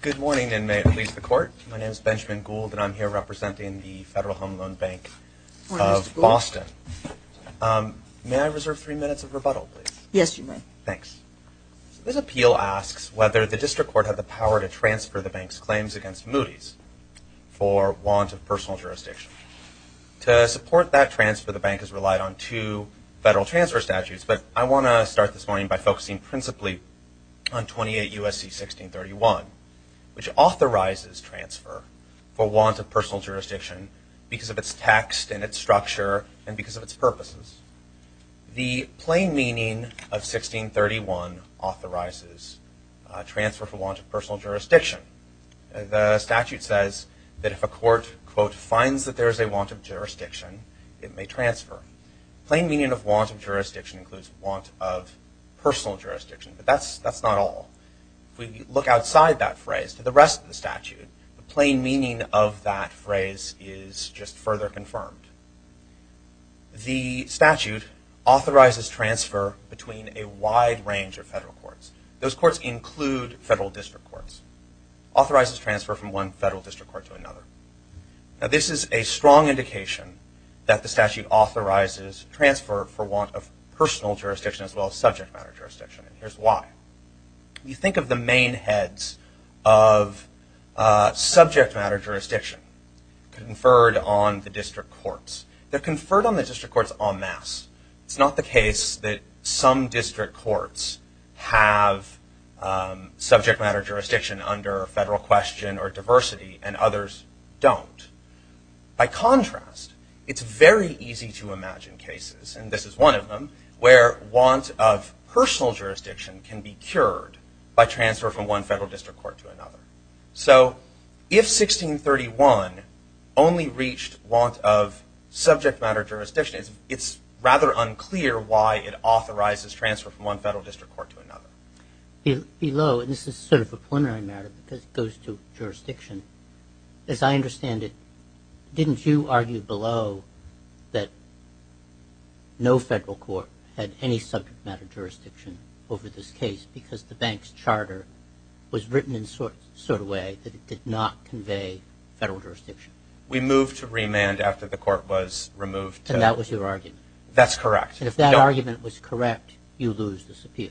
Good morning and may it please the Court. My name is Benjamin Gould and I'm here representing the Federal Home Loan Bank of Boston. May I reserve three minutes of rebuttal, please? Yes, you may. Thanks. This appeal asks whether the District Court had the power to transfer the bank's claims against Moody's for want of personal jurisdiction. To support that transfer, the bank has relied on two federal transfer statutes, but I want to start this morning by focusing principally on 28 U.S.C. 1631, which authorizes transfer for want of personal jurisdiction because of its text and its structure and because of its purposes. The plain meaning of 1631 authorizes transfer for want of personal jurisdiction. The statute says that if a court, quote, finds that there is a want of jurisdiction, it may transfer. The plain meaning of want of jurisdiction includes want of personal jurisdiction, but that's not all. If we look outside that phrase to the rest of the statute, the plain meaning of that phrase is just further confirmed. The statute authorizes transfer between a wide range of federal courts. Those courts include federal district courts. It authorizes transfer from one federal district court to another. This is a strong indication that the statute authorizes transfer for want of personal jurisdiction as well as subject matter jurisdiction, and here's why. You think of the main heads of subject matter jurisdiction conferred on the district courts. They're conferred on the district courts en masse. It's not the case that some district courts have subject matter jurisdiction under federal question or diversity and others don't. By contrast, it's very easy to imagine cases, and this is one of them, where want of personal jurisdiction can be cured by transfer from one federal district court to another. So if 1631 only reached want of subject matter jurisdiction, it's rather unclear why it authorizes transfer from one federal district court to another. Below, and this is sort of a preliminary matter because it goes to jurisdiction, as I understand it, didn't you argue below that no federal court had any subject matter jurisdiction over this case because the bank's charter was written in such a way that it did not convey federal jurisdiction? We moved to remand after the court was removed to... And that was your argument? That's correct. And if that argument was correct, you lose this appeal?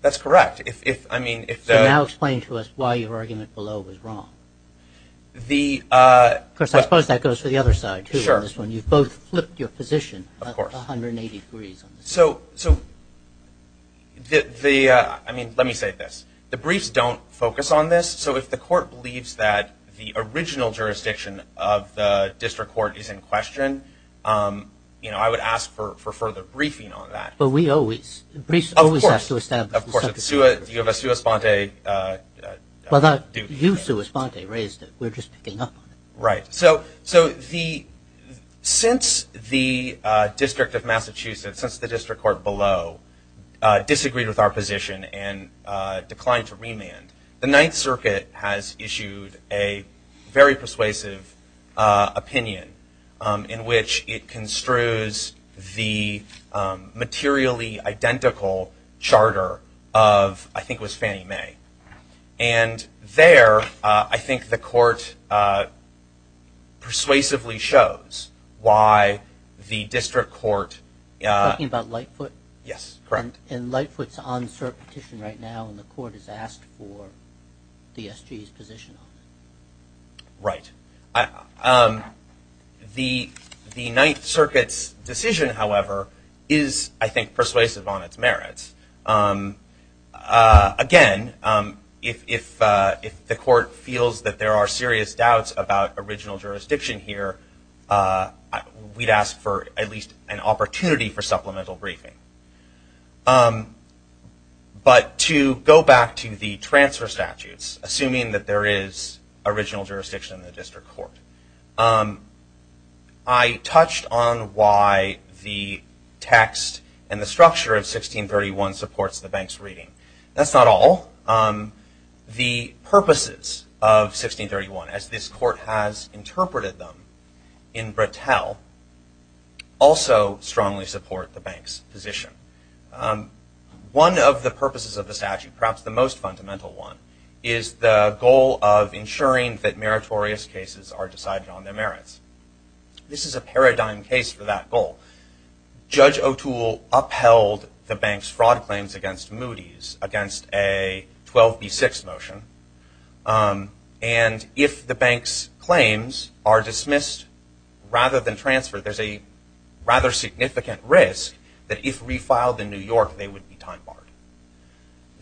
That's correct. If, I mean, if the... So now explain to us why your argument below was wrong. Of course, I suppose that goes to the other side, too, on this one. You've both flipped your position 180 degrees. So the, I mean, let me say this. The briefs don't focus on this, so if the court believes that the original jurisdiction of the district court is in question, you know, I would ask for further briefing on that. But we always, briefs always have to establish the subject matter. Of course. You have a sua sponte duty. You sua sponte raised it. We're just picking up on it. Right. So the, since the District of Massachusetts, since the district court below disagreed with our position and declined to remand, the Ninth Circuit has issued a very persuasive opinion in which it construes the materially identical charter of, I think it was Fannie Mae. And there, I think the court persuasively shows why the district court... Are you talking about Lightfoot? Yes, correct. And Lightfoot's on cert petition right now, and the court has asked for the SG's position. Right. The Ninth Circuit's decision, however, is, I think, persuasive on its merits. Again, if the court feels that there are serious doubts about original jurisdiction here, we'd ask for at least an opportunity for supplemental briefing. But to go back to the transfer statutes, assuming that there is original jurisdiction in the district court, I touched on why the text and the structure of 1631 supports the bank's reading. That's not all. The purposes of 1631, as this court has interpreted them in Brattel, is also strongly support the bank's position. One of the purposes of the statute, perhaps the most fundamental one, is the goal of ensuring that meritorious cases are decided on their merits. This is a paradigm case for that goal. Judge O'Toole upheld the bank's fraud claims against Moody's against a 12B6 motion. And, if the bank's claims are dismissed rather than transferred, there's a rather significant risk that if refiled in New York, they would be time barred.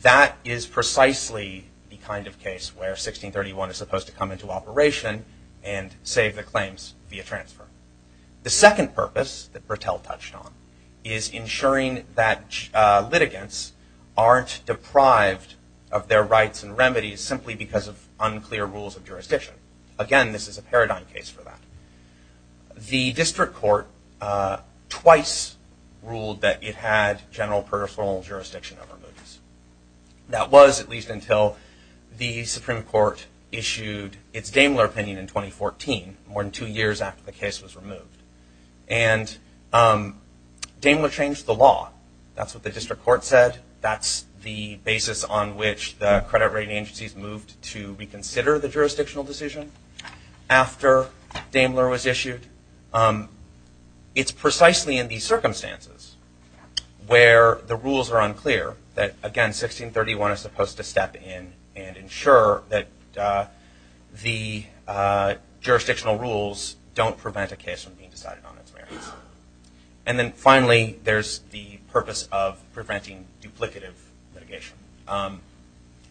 That is precisely the kind of case where 1631 is supposed to come into operation and save the claims via transfer. The second purpose that Brattel touched on is ensuring that litigants aren't deprived of their rights and remedies simply because of unclear rules of jurisdiction. Again, this is a paradigm case for that. The district court twice ruled that it had general personal jurisdiction over Moody's. That was at least until the Supreme Court issued its Daimler opinion in 2014, more than two years after the case was removed. And Daimler changed the law. That's what the district court said. That's the basis on which the credit rating agencies moved to reconsider the jurisdictional decision after Daimler was issued. It's precisely in these circumstances where the rules are unclear that, again, 1631 is supposed to step in and ensure that the jurisdictional rules don't prevent a case from being decided on its merits. And then finally, there's the purpose of preventing duplicative litigation.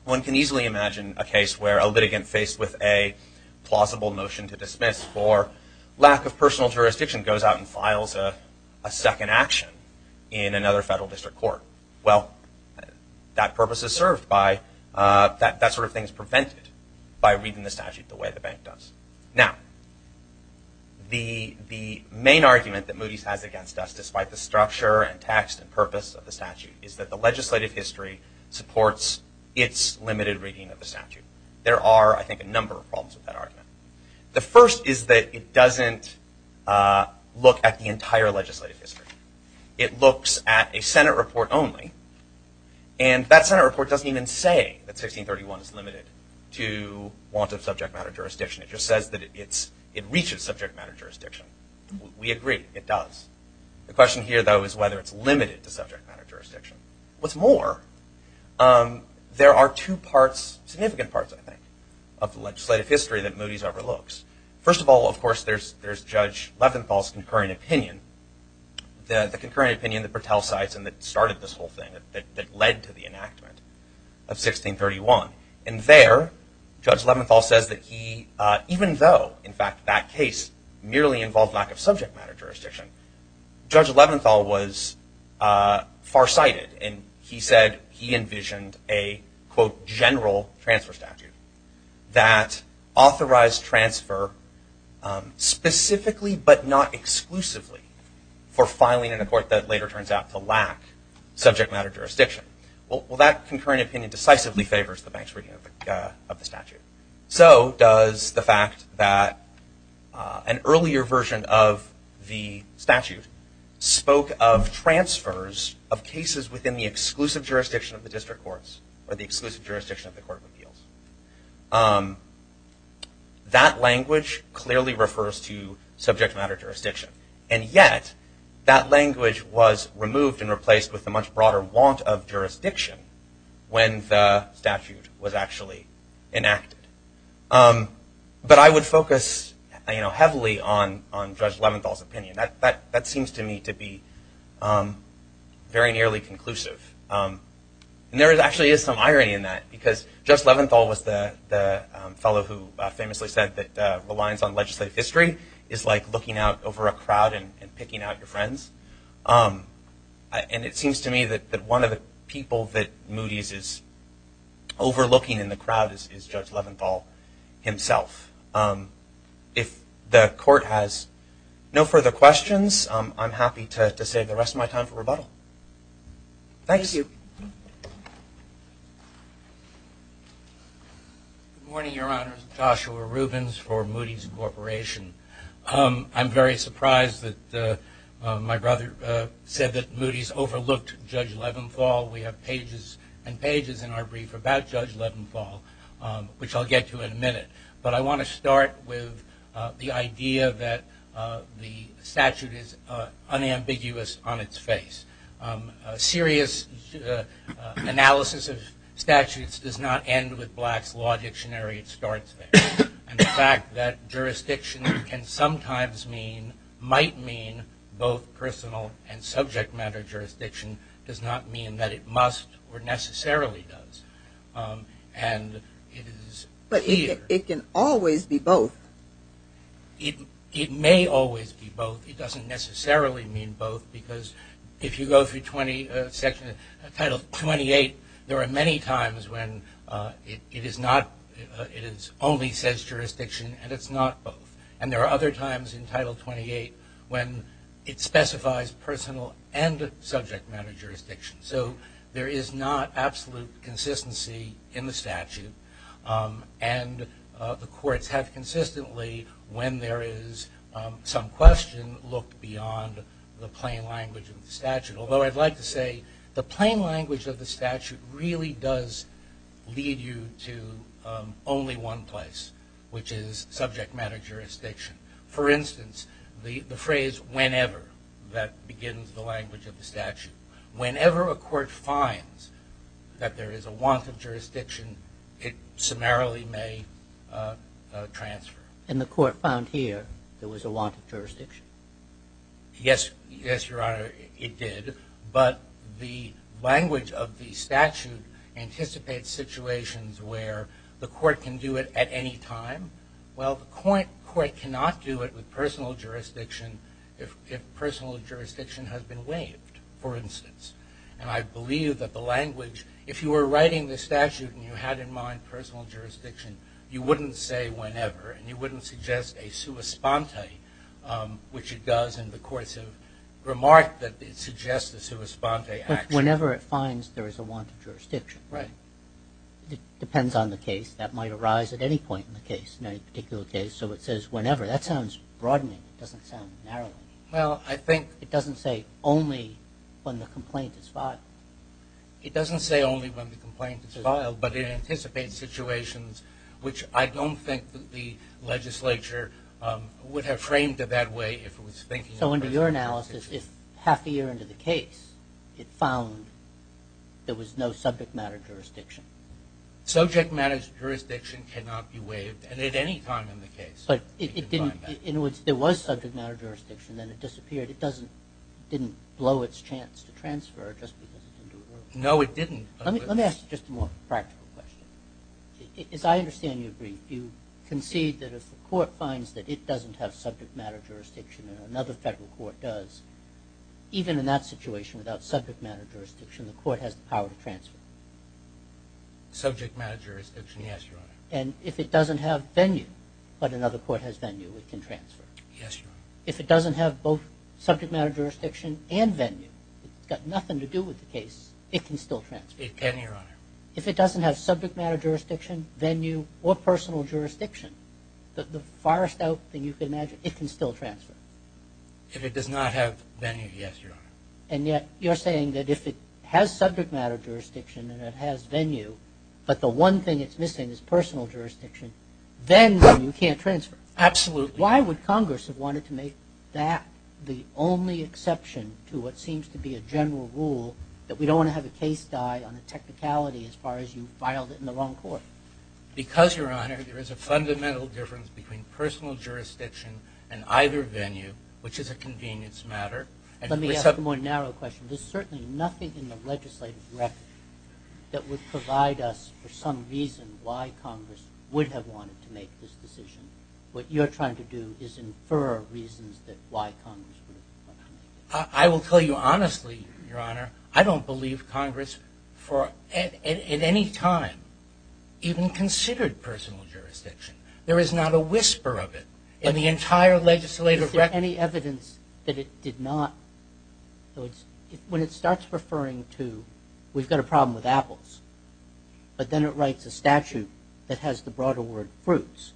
One can easily imagine a case where a litigant faced with a plausible motion to dismiss for lack of personal jurisdiction goes out and files a second action in another federal district court. Well, that purpose is served by, that sort of thing is prevented by reading the statute the way the bank does. Now, the main argument that Moody's has against us, despite the structure and text and purpose of the statute, is that the legislative history supports its limited reading of the statute. There are, I think, a number of problems with that argument. The first is that it doesn't look at the entire legislative history. It looks at a Senate report only. And that Senate report doesn't even say that 1631 is limited to want of subject matter jurisdiction. It just says that it reaches subject matter jurisdiction. We agree, it does. The question here, though, is whether it's limited to subject matter jurisdiction. What's more, there are two parts, significant parts, I think, of the legislative history that Moody's overlooks. First of all, of course, there's Judge Leventhal's concurring opinion, the concurring opinion that Bertel cites and that started this whole thing, that led to the enactment of 1631. And there, Judge Leventhal says that he, even though, in fact, that case merely involved lack of subject matter jurisdiction, Judge Leventhal was farsighted. And he said he envisioned a, quote, general transfer statute that authorized transfer specifically but not exclusively for filing in a court that later turns out to lack subject matter jurisdiction. Well, that concurring opinion decisively favors the bank's reading of the statute. So does the fact that an earlier version of the statute spoke of transfers of cases within the exclusive jurisdiction of the district courts or the exclusive jurisdiction of the court of appeals. That language clearly refers to subject matter jurisdiction. And yet, that language was removed and replaced with a much broader want of jurisdiction when the statute was actually enacted. But I would focus, you know, heavily on Judge Leventhal's opinion. That seems to me to be very nearly conclusive. And there actually is some irony in that because Judge Leventhal was the fellow who famously said that reliance on legislative history is like looking out over a crowd and picking out your friends. And it seems to me that one of the people that Moody's is overlooking in the crowd is Judge Leventhal himself. If the court has no further questions, I'm happy to save the rest of my time for rebuttal. Thanks. Thank you. Good morning, Your Honors. Joshua Rubens for Moody's Corporation. I'm very surprised that my brother said that Moody's overlooked Judge Leventhal. We have pages and pages in our brief about Judge Leventhal, which I'll get to in a minute. But I want to start with the idea that the statute is unambiguous on its face. A serious analysis of statutes does not end with Black's Law Dictionary. It starts there. And the fact that jurisdiction can sometimes mean, might mean both personal and subject matter jurisdiction does not mean that it must or necessarily does. And it is clear. But it can always be both. It may always be both. It doesn't necessarily mean both because if you go through section title 28, there are many times when it is not, it only says jurisdiction and it's not both. And there are other times in title 28 when it specifies personal and subject matter jurisdiction. And the courts have consistently, when there is some question, looked beyond the plain language of the statute. Although I'd like to say the plain language of the statute really does lead you to only one place, which is subject matter jurisdiction. For instance, the phrase whenever, that begins the language of the statute. Whenever a court finds that there is a want of jurisdiction, it summarily may transfer. And the court found here there was a want of jurisdiction. Yes, yes, Your Honor, it did. But the language of the statute anticipates situations where the court can do it at any time. Well, the court cannot do it with personal jurisdiction if personal jurisdiction has been waived. For instance, and I believe that the language, if you were writing the statute and you had in mind personal jurisdiction, you wouldn't say whenever and you wouldn't suggest a sua sponte, which it does in the course of remark that it suggests a sua sponte action. Whenever it finds there is a want of jurisdiction. Right. It depends on the case. That might arise at any point in the case, in any particular case. So it says whenever. That sounds broadening. It doesn't sound narrowing. Well, I think. It doesn't say only when the complaint is filed. It doesn't say only when the complaint is filed, but it anticipates situations which I don't think the legislature would have framed it that way if it was thinking of personal jurisdiction. So under your analysis, if half a year into the case, it found there was no subject matter jurisdiction. Subject matter jurisdiction cannot be waived, and at any time in the case. But it didn't, in other words, there was subject matter jurisdiction, then it disappeared. It didn't blow its chance to transfer just because it didn't do it earlier. No, it didn't. Let me ask you just a more practical question. As I understand you, you concede that if the court finds that it doesn't have subject matter jurisdiction, and another federal court does, even in that situation, without subject matter jurisdiction, the court has the power to transfer. Subject matter jurisdiction, yes, Your Honor. And if it doesn't have venue, but another court has venue, it can transfer. Yes, Your Honor. If it doesn't have both subject matter jurisdiction and venue, it's got nothing to do with the case, it can still transfer. It can, Your Honor. If it doesn't have subject matter jurisdiction, venue, or personal jurisdiction, the farthest out thing you can imagine, it can still transfer. If it does not have venue, yes, Your Honor. And yet, you're saying that if it has subject matter jurisdiction and it has venue, but the one thing it's missing is personal jurisdiction, then you can't transfer. Absolutely. Why would Congress have wanted to make that the only exception to what seems to be a general rule that we don't want to have a case die on a technicality as far as you filed it in the wrong court? Because, Your Honor, there is a fundamental difference between personal jurisdiction and either venue, which is a convenience matter. Let me ask a more narrow question. There's certainly nothing in the legislative record that would provide us, for some reason, why Congress would have wanted to make this decision. What you're trying to do is infer reasons that why Congress would have wanted to do it. I will tell you honestly, Your Honor, I don't believe Congress for at any time even considered personal jurisdiction. There is not a whisper of it in the entire legislative record. Is there any evidence that it did not? When it starts referring to, we've got a problem with apples, but then it writes a statute that has the broader word, fruits.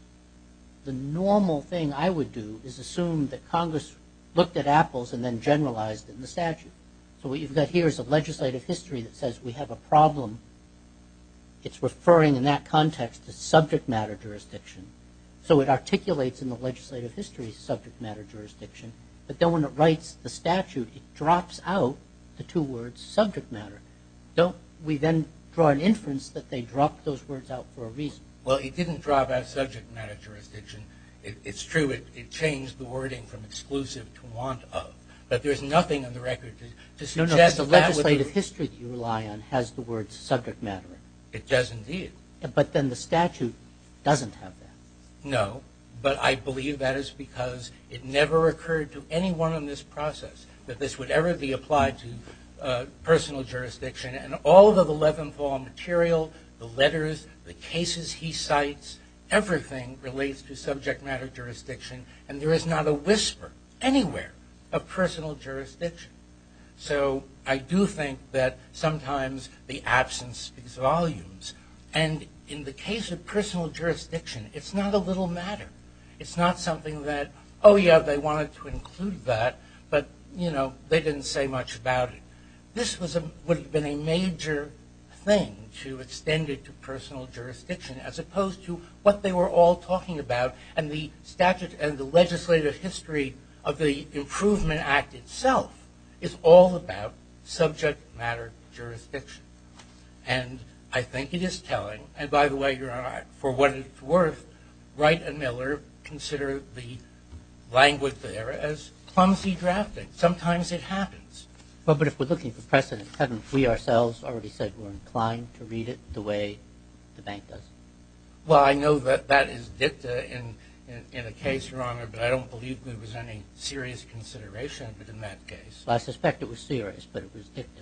The normal thing I would do is assume that Congress looked at apples and then generalized in the statute. So what you've got here is a legislative history that says we have a problem. It's referring in that context to subject matter jurisdiction. So it articulates in the legislative history subject matter jurisdiction. But then when it writes the statute, it drops out the two words subject matter. Don't we then draw an inference that they dropped those words out for a reason? Well, it didn't drop out subject matter jurisdiction. It's true, it changed the wording from exclusive to want of. But there's nothing in the record to suggest that would be- No, no, because the legislative history that you rely on has the words subject matter. It does indeed. But then the statute doesn't have that. No, but I believe that is because it never occurred to anyone in this process that this would ever be applied to personal jurisdiction. And all of the Levin Paul material, the letters, the cases he cites, everything relates to subject matter jurisdiction. And there is not a whisper anywhere of personal jurisdiction. So I do think that sometimes the absence ex volumes. And in the case of personal jurisdiction, it's not a little matter. It's not something that, yeah, they wanted to include that. But, you know, they didn't say much about it. This would have been a major thing to extend it to personal jurisdiction as opposed to what they were all talking about. And the statute and the legislative history of the Improvement Act itself is all about subject matter jurisdiction. And I think it is telling. And by the way, for what it's worth, Wright and Miller consider the language there as clumsy drafting. Sometimes it happens. Well, but if we're looking for precedent, haven't we ourselves already said we're inclined to read it the way the bank does? Well, I know that that is dicta in a case, Your Honor, but I don't believe there was any serious consideration of it in that case. Well, I suspect it was serious, but it was dicta.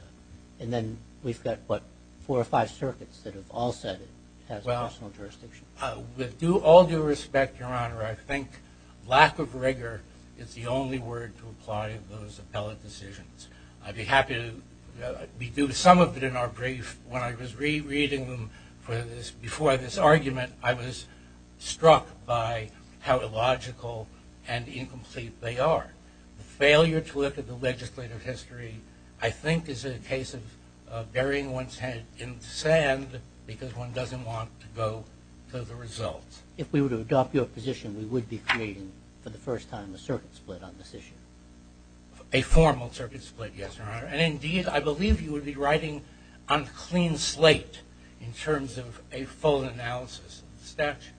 And then we've got, what, four or five circuits that have all said it has personal jurisdiction. With all due respect, Your Honor, I think lack of rigor is the only word to apply to those appellate decisions. I'd be happy to be due to some of it in our brief. When I was rereading them for this, before this argument, I was struck by how illogical and incomplete they are. The failure to look at the legislative history, I think, is a case of burying one's head in sand because one doesn't want to go to the results. If we were to adopt your position, we would be creating, for the first time, a circuit split on this issue. A formal circuit split, yes, Your Honor. And indeed, I believe you would be writing on a clean slate in terms of a full analysis of the statute.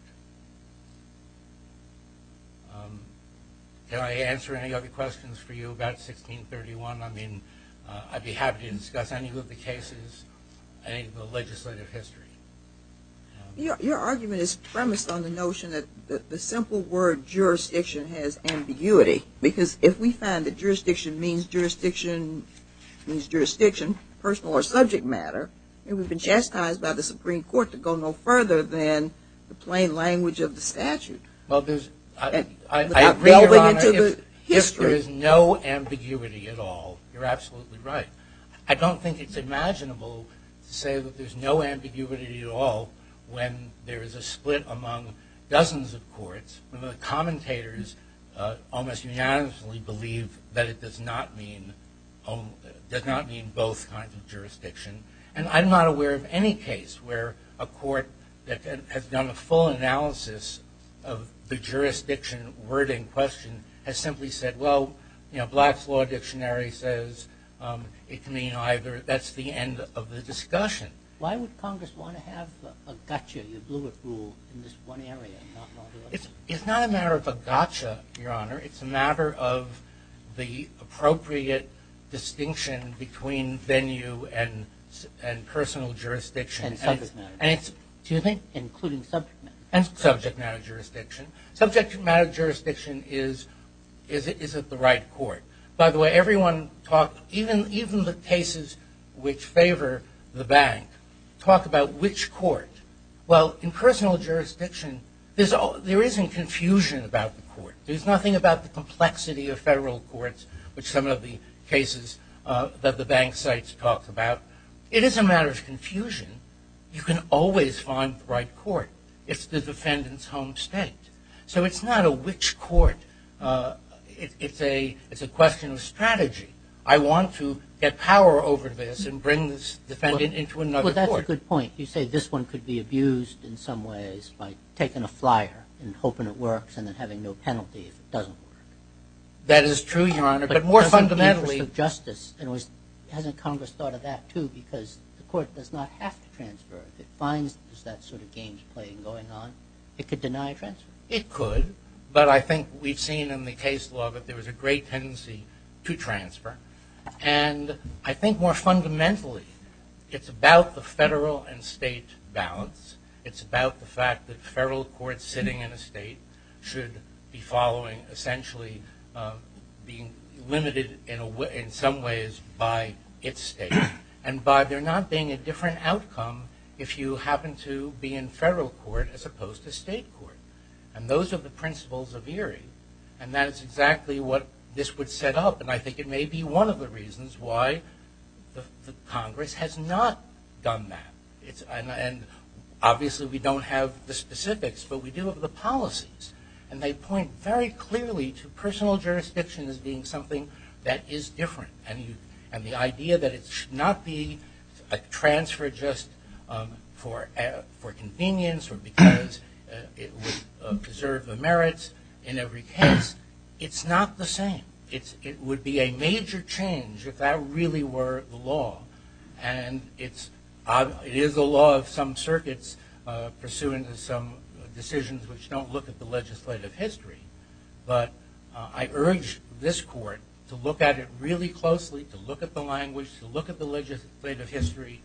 Can I answer any other questions for you about 1631? I mean, I'd be happy to discuss any of the cases. Any of the legislative history. Your argument is premised on the notion that the simple word jurisdiction has ambiguity. Because if we find that jurisdiction means jurisdiction personal or subject matter, then we've been chastised by the Supreme Court to go no further than the plain language of the statute. Well, there's, I agree, Your Honor, if history is no ambiguity at all, you're absolutely right. I don't think it's imaginable to say that there's no ambiguity at all when there is a split among dozens of courts, when the commentators almost unanimously believe that it does not mean both kinds of jurisdiction. And I'm not aware of any case where a court that has done a full analysis of the jurisdiction wording question has simply said, well, Black's Law Dictionary says it can mean either. That's the end of the discussion. Why would Congress want to have a gotcha, a bluetooth rule, in this one area? It's not a matter of a gotcha, Your Honor. It's a matter of the appropriate distinction between venue and personal jurisdiction. And subject matter. And it's, do you think, including subject matter? And subject matter jurisdiction. Subject matter jurisdiction is, is it the right court? By the way, everyone talked, even the cases which favor the bank, talk about which court. Well, in personal jurisdiction, there isn't confusion about the court. There's nothing about the complexity of federal courts, which some of the cases that the bank sites talk about. It is a matter of confusion. You can always find the right court. It's the defendant's home state. So it's not a which court. It's a question of strategy. I want to get power over this and bring this defendant into another court. Well, that's a good point. You say this one could be abused in some ways, by taking a flyer and hoping it works, and then having no penalty if it doesn't work. That is true, Your Honor. But more fundamentally. But it doesn't give us the justice. And hasn't Congress thought of that, too? Because the court does not have to transfer. If it finds that sort of game playing going on, it could deny a transfer. It could. But I think we've seen in the case law that there was a great tendency to transfer. And I think more fundamentally, it's about the federal and state balance. It's about the fact that federal courts sitting in a state should be following, essentially, being limited in some ways by its state. And by there not being a different outcome, if you happen to be in federal court as opposed to state court. And those are the principles of ERIE. And that is exactly what this would set up. And I think it may be one of the reasons why the Congress has not done that. And obviously, we don't have the specifics. But we do have the policies. And they point very clearly to personal jurisdiction as being something that is different. And the idea that it should not be a transfer just for convenience or because it would preserve the merits in every case, it's not the same. It would be a major change if that really were the law. And it is a law of some circuits pursuant to some decisions which don't look at the legislative history. But I urge this court to look at it really closely, to look at the language, to look at the legislative history,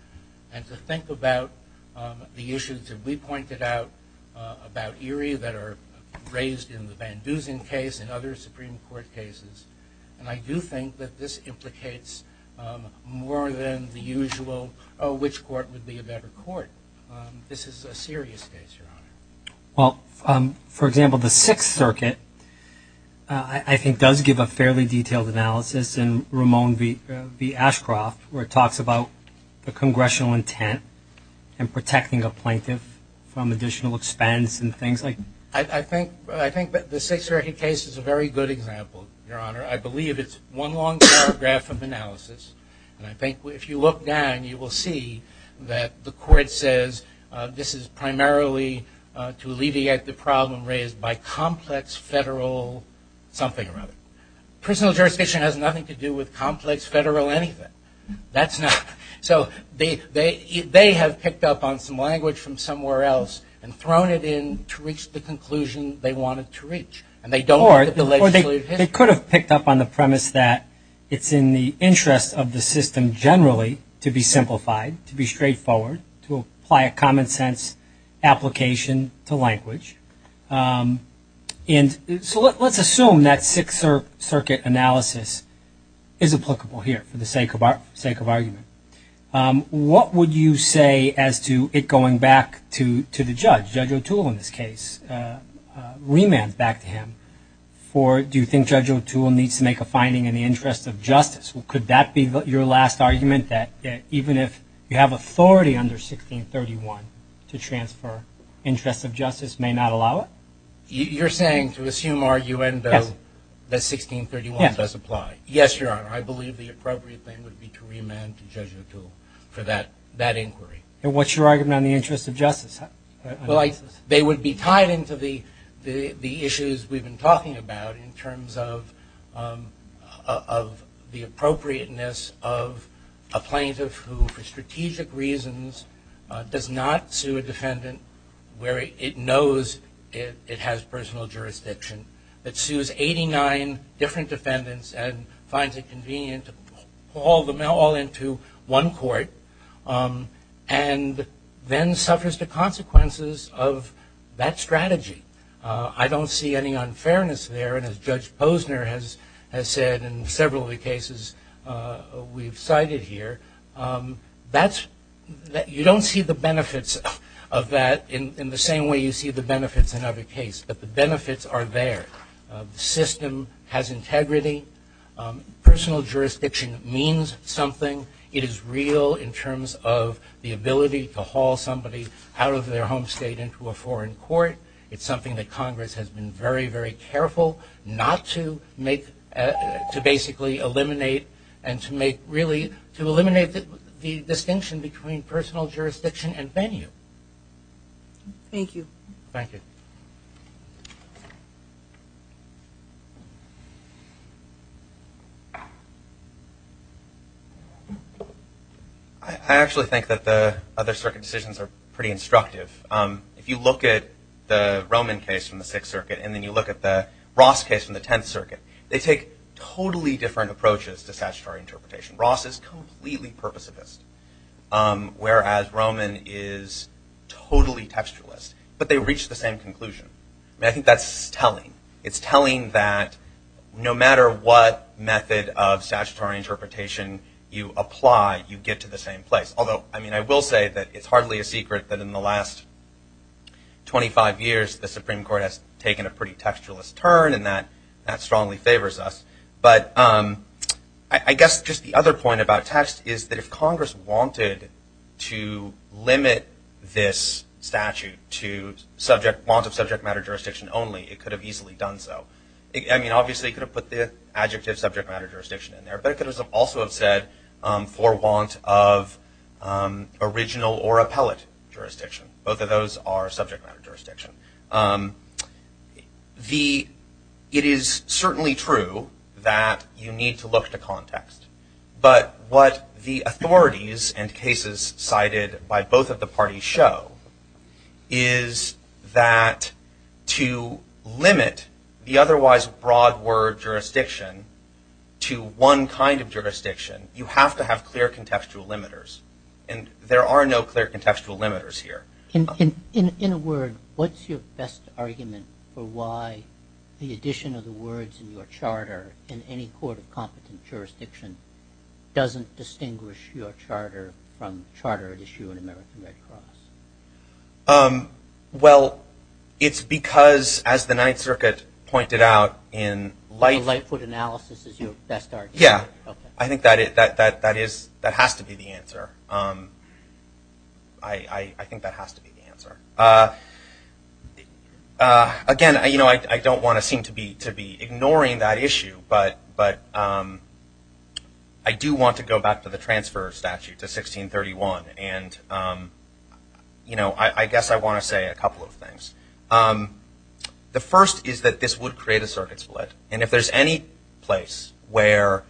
and to think about the issues that we pointed out about ERIE that are raised in the Van Dusen case and other Supreme Court cases. And I do think that this implicates more than the usual, oh, which court would be a better court? This is a serious case, Your Honor. Well, for example, the Sixth Circuit, I think, does give a fairly detailed analysis in Ramon v. Ashcroft where it talks about the congressional intent and protecting a plaintiff from additional expense and things like that. I think the Sixth Circuit case is a very good example, Your Honor. I believe it's one long paragraph of analysis. And I think if you look down, you will see that the court says, this is primarily to alleviate the problem raised by complex federal something or other. Personal jurisdiction has nothing to do with complex federal anything. That's not. So they have picked up on some language from somewhere else and thrown it in to reach the conclusion they wanted to reach. And they don't look at the legislative history. Or they could have picked up on the premise that it's in the interest of the system generally to be simplified, to be straightforward, to apply a common sense application to language. And so let's assume that Sixth Circuit analysis is applicable here for the sake of argument. What would you say as to it going back to the judge, Judge O'Toole in this case, remand back to him for, do you think Judge O'Toole needs to make a finding in the interest of justice? Could that be your last argument, that even if you have authority under 1631 to transfer interests of justice, may not allow it? You're saying to assume our UN bill that 1631 does apply? Yes, Your Honor. I believe the appropriate thing would be to remand to Judge O'Toole for that inquiry. And what's your argument on the interest of justice? They would be tied into the issues we've been talking about in terms of the appropriateness of a plaintiff who, for strategic reasons, does not sue a defendant where it knows it has personal jurisdiction, but sues 89 different defendants and finds it convenient to haul them all into one court, and then suffers the consequences of that strategy. I don't see any unfairness there. And as Judge Posner has said in several of the cases we've cited here, you don't see the benefits of that in the same way you see the benefits in other cases. But the benefits are there. The system has integrity. Personal jurisdiction means something. It is real in terms of the ability to haul somebody out of their home state into a foreign court. It's something that Congress has been very, very careful not to make, to basically eliminate, and to eliminate the distinction between personal jurisdiction and venue. Thank you. Thank you. I actually think that the other circuit decisions are pretty instructive. If you look at the Roman case from the Sixth Circuit, and then you look at the Ross case from the Tenth Circuit, they take totally different approaches to statutory interpretation. Ross is completely purposivist, whereas Roman is totally textualist. But they reach the same conclusion. I think that's telling. It's telling that no matter what method of statutory interpretation you apply, you get to the same place. Although, I mean, I will say that it's hardly a secret that in the last 25 years, the Supreme Court has taken a pretty textualist turn. And that strongly favors us. But I guess just the other point about text is that if Congress wanted to limit this statute to want of subject matter jurisdiction only, it could have easily done so. I mean, obviously, it could have put the adjective subject matter jurisdiction in there. But it could also have said for want of original or appellate jurisdiction. Both of those are subject matter jurisdiction. It is certainly true that you need to look to context. But what the authorities and cases cited by both of the parties show is that to limit the otherwise broad word jurisdiction to one kind of jurisdiction, you have to have clear contextual limiters. And there are no clear contextual limiters here. In a word, what's your best argument for why the addition of the words in your charter in any court of competent jurisdiction doesn't distinguish your charter from charter at issue in American Red Cross? Well, it's because, as the Ninth Circuit pointed out, in life Lightfoot analysis is your best argument. Yeah. I think that has to be the answer. I think that has to be the answer. Again, I don't want to seem to be ignoring that issue. But I do want to go back to the transfer statute to 1631. And I guess I want to say a couple of things. The first is that this would create a circuit split. And if there's any place where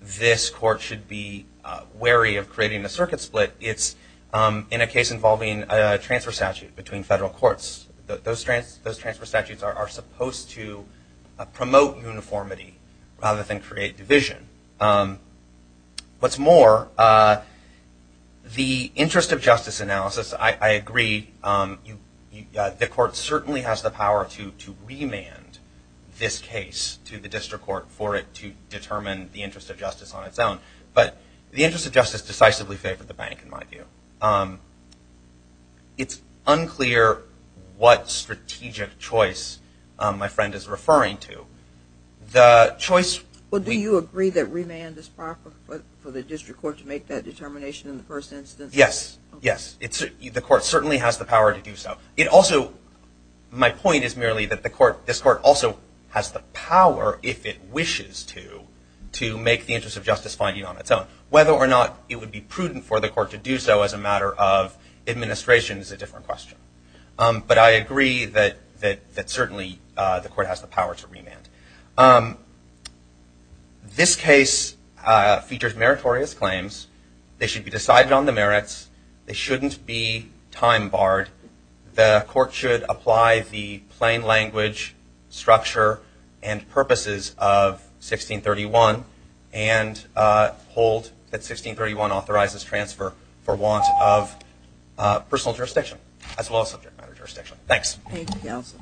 this court should be wary of creating a circuit split, it's in a case involving a transfer statute between federal courts. Those transfer statutes are supposed to promote uniformity rather than create division. What's more, the interest of justice analysis, I agree. The court certainly has the power to remand this case to the district court for it to determine the interest of justice on its own. But the interest of justice decisively favored the bank, in my view. It's unclear what strategic choice my friend is referring to. The choice we- Well, do you agree that remand is proper for the district court to make that determination in the first instance? Yes. Yes. The court certainly has the power to do so. My point is merely that this court also has the power, if it wishes to, to make the interest of justice finding on its own. Whether or not it would be prudent for the court to do so as a matter of administration is a different question. But I agree that certainly the court has the power to remand. This case features meritorious claims. They should be decided on the merits. They shouldn't be time barred. The court should apply the plain language, structure, and purposes of 1631 and hold that 1631 authorizes transfer for want of personal jurisdiction as well as subject matter jurisdiction. Thanks. Thank you, counsel.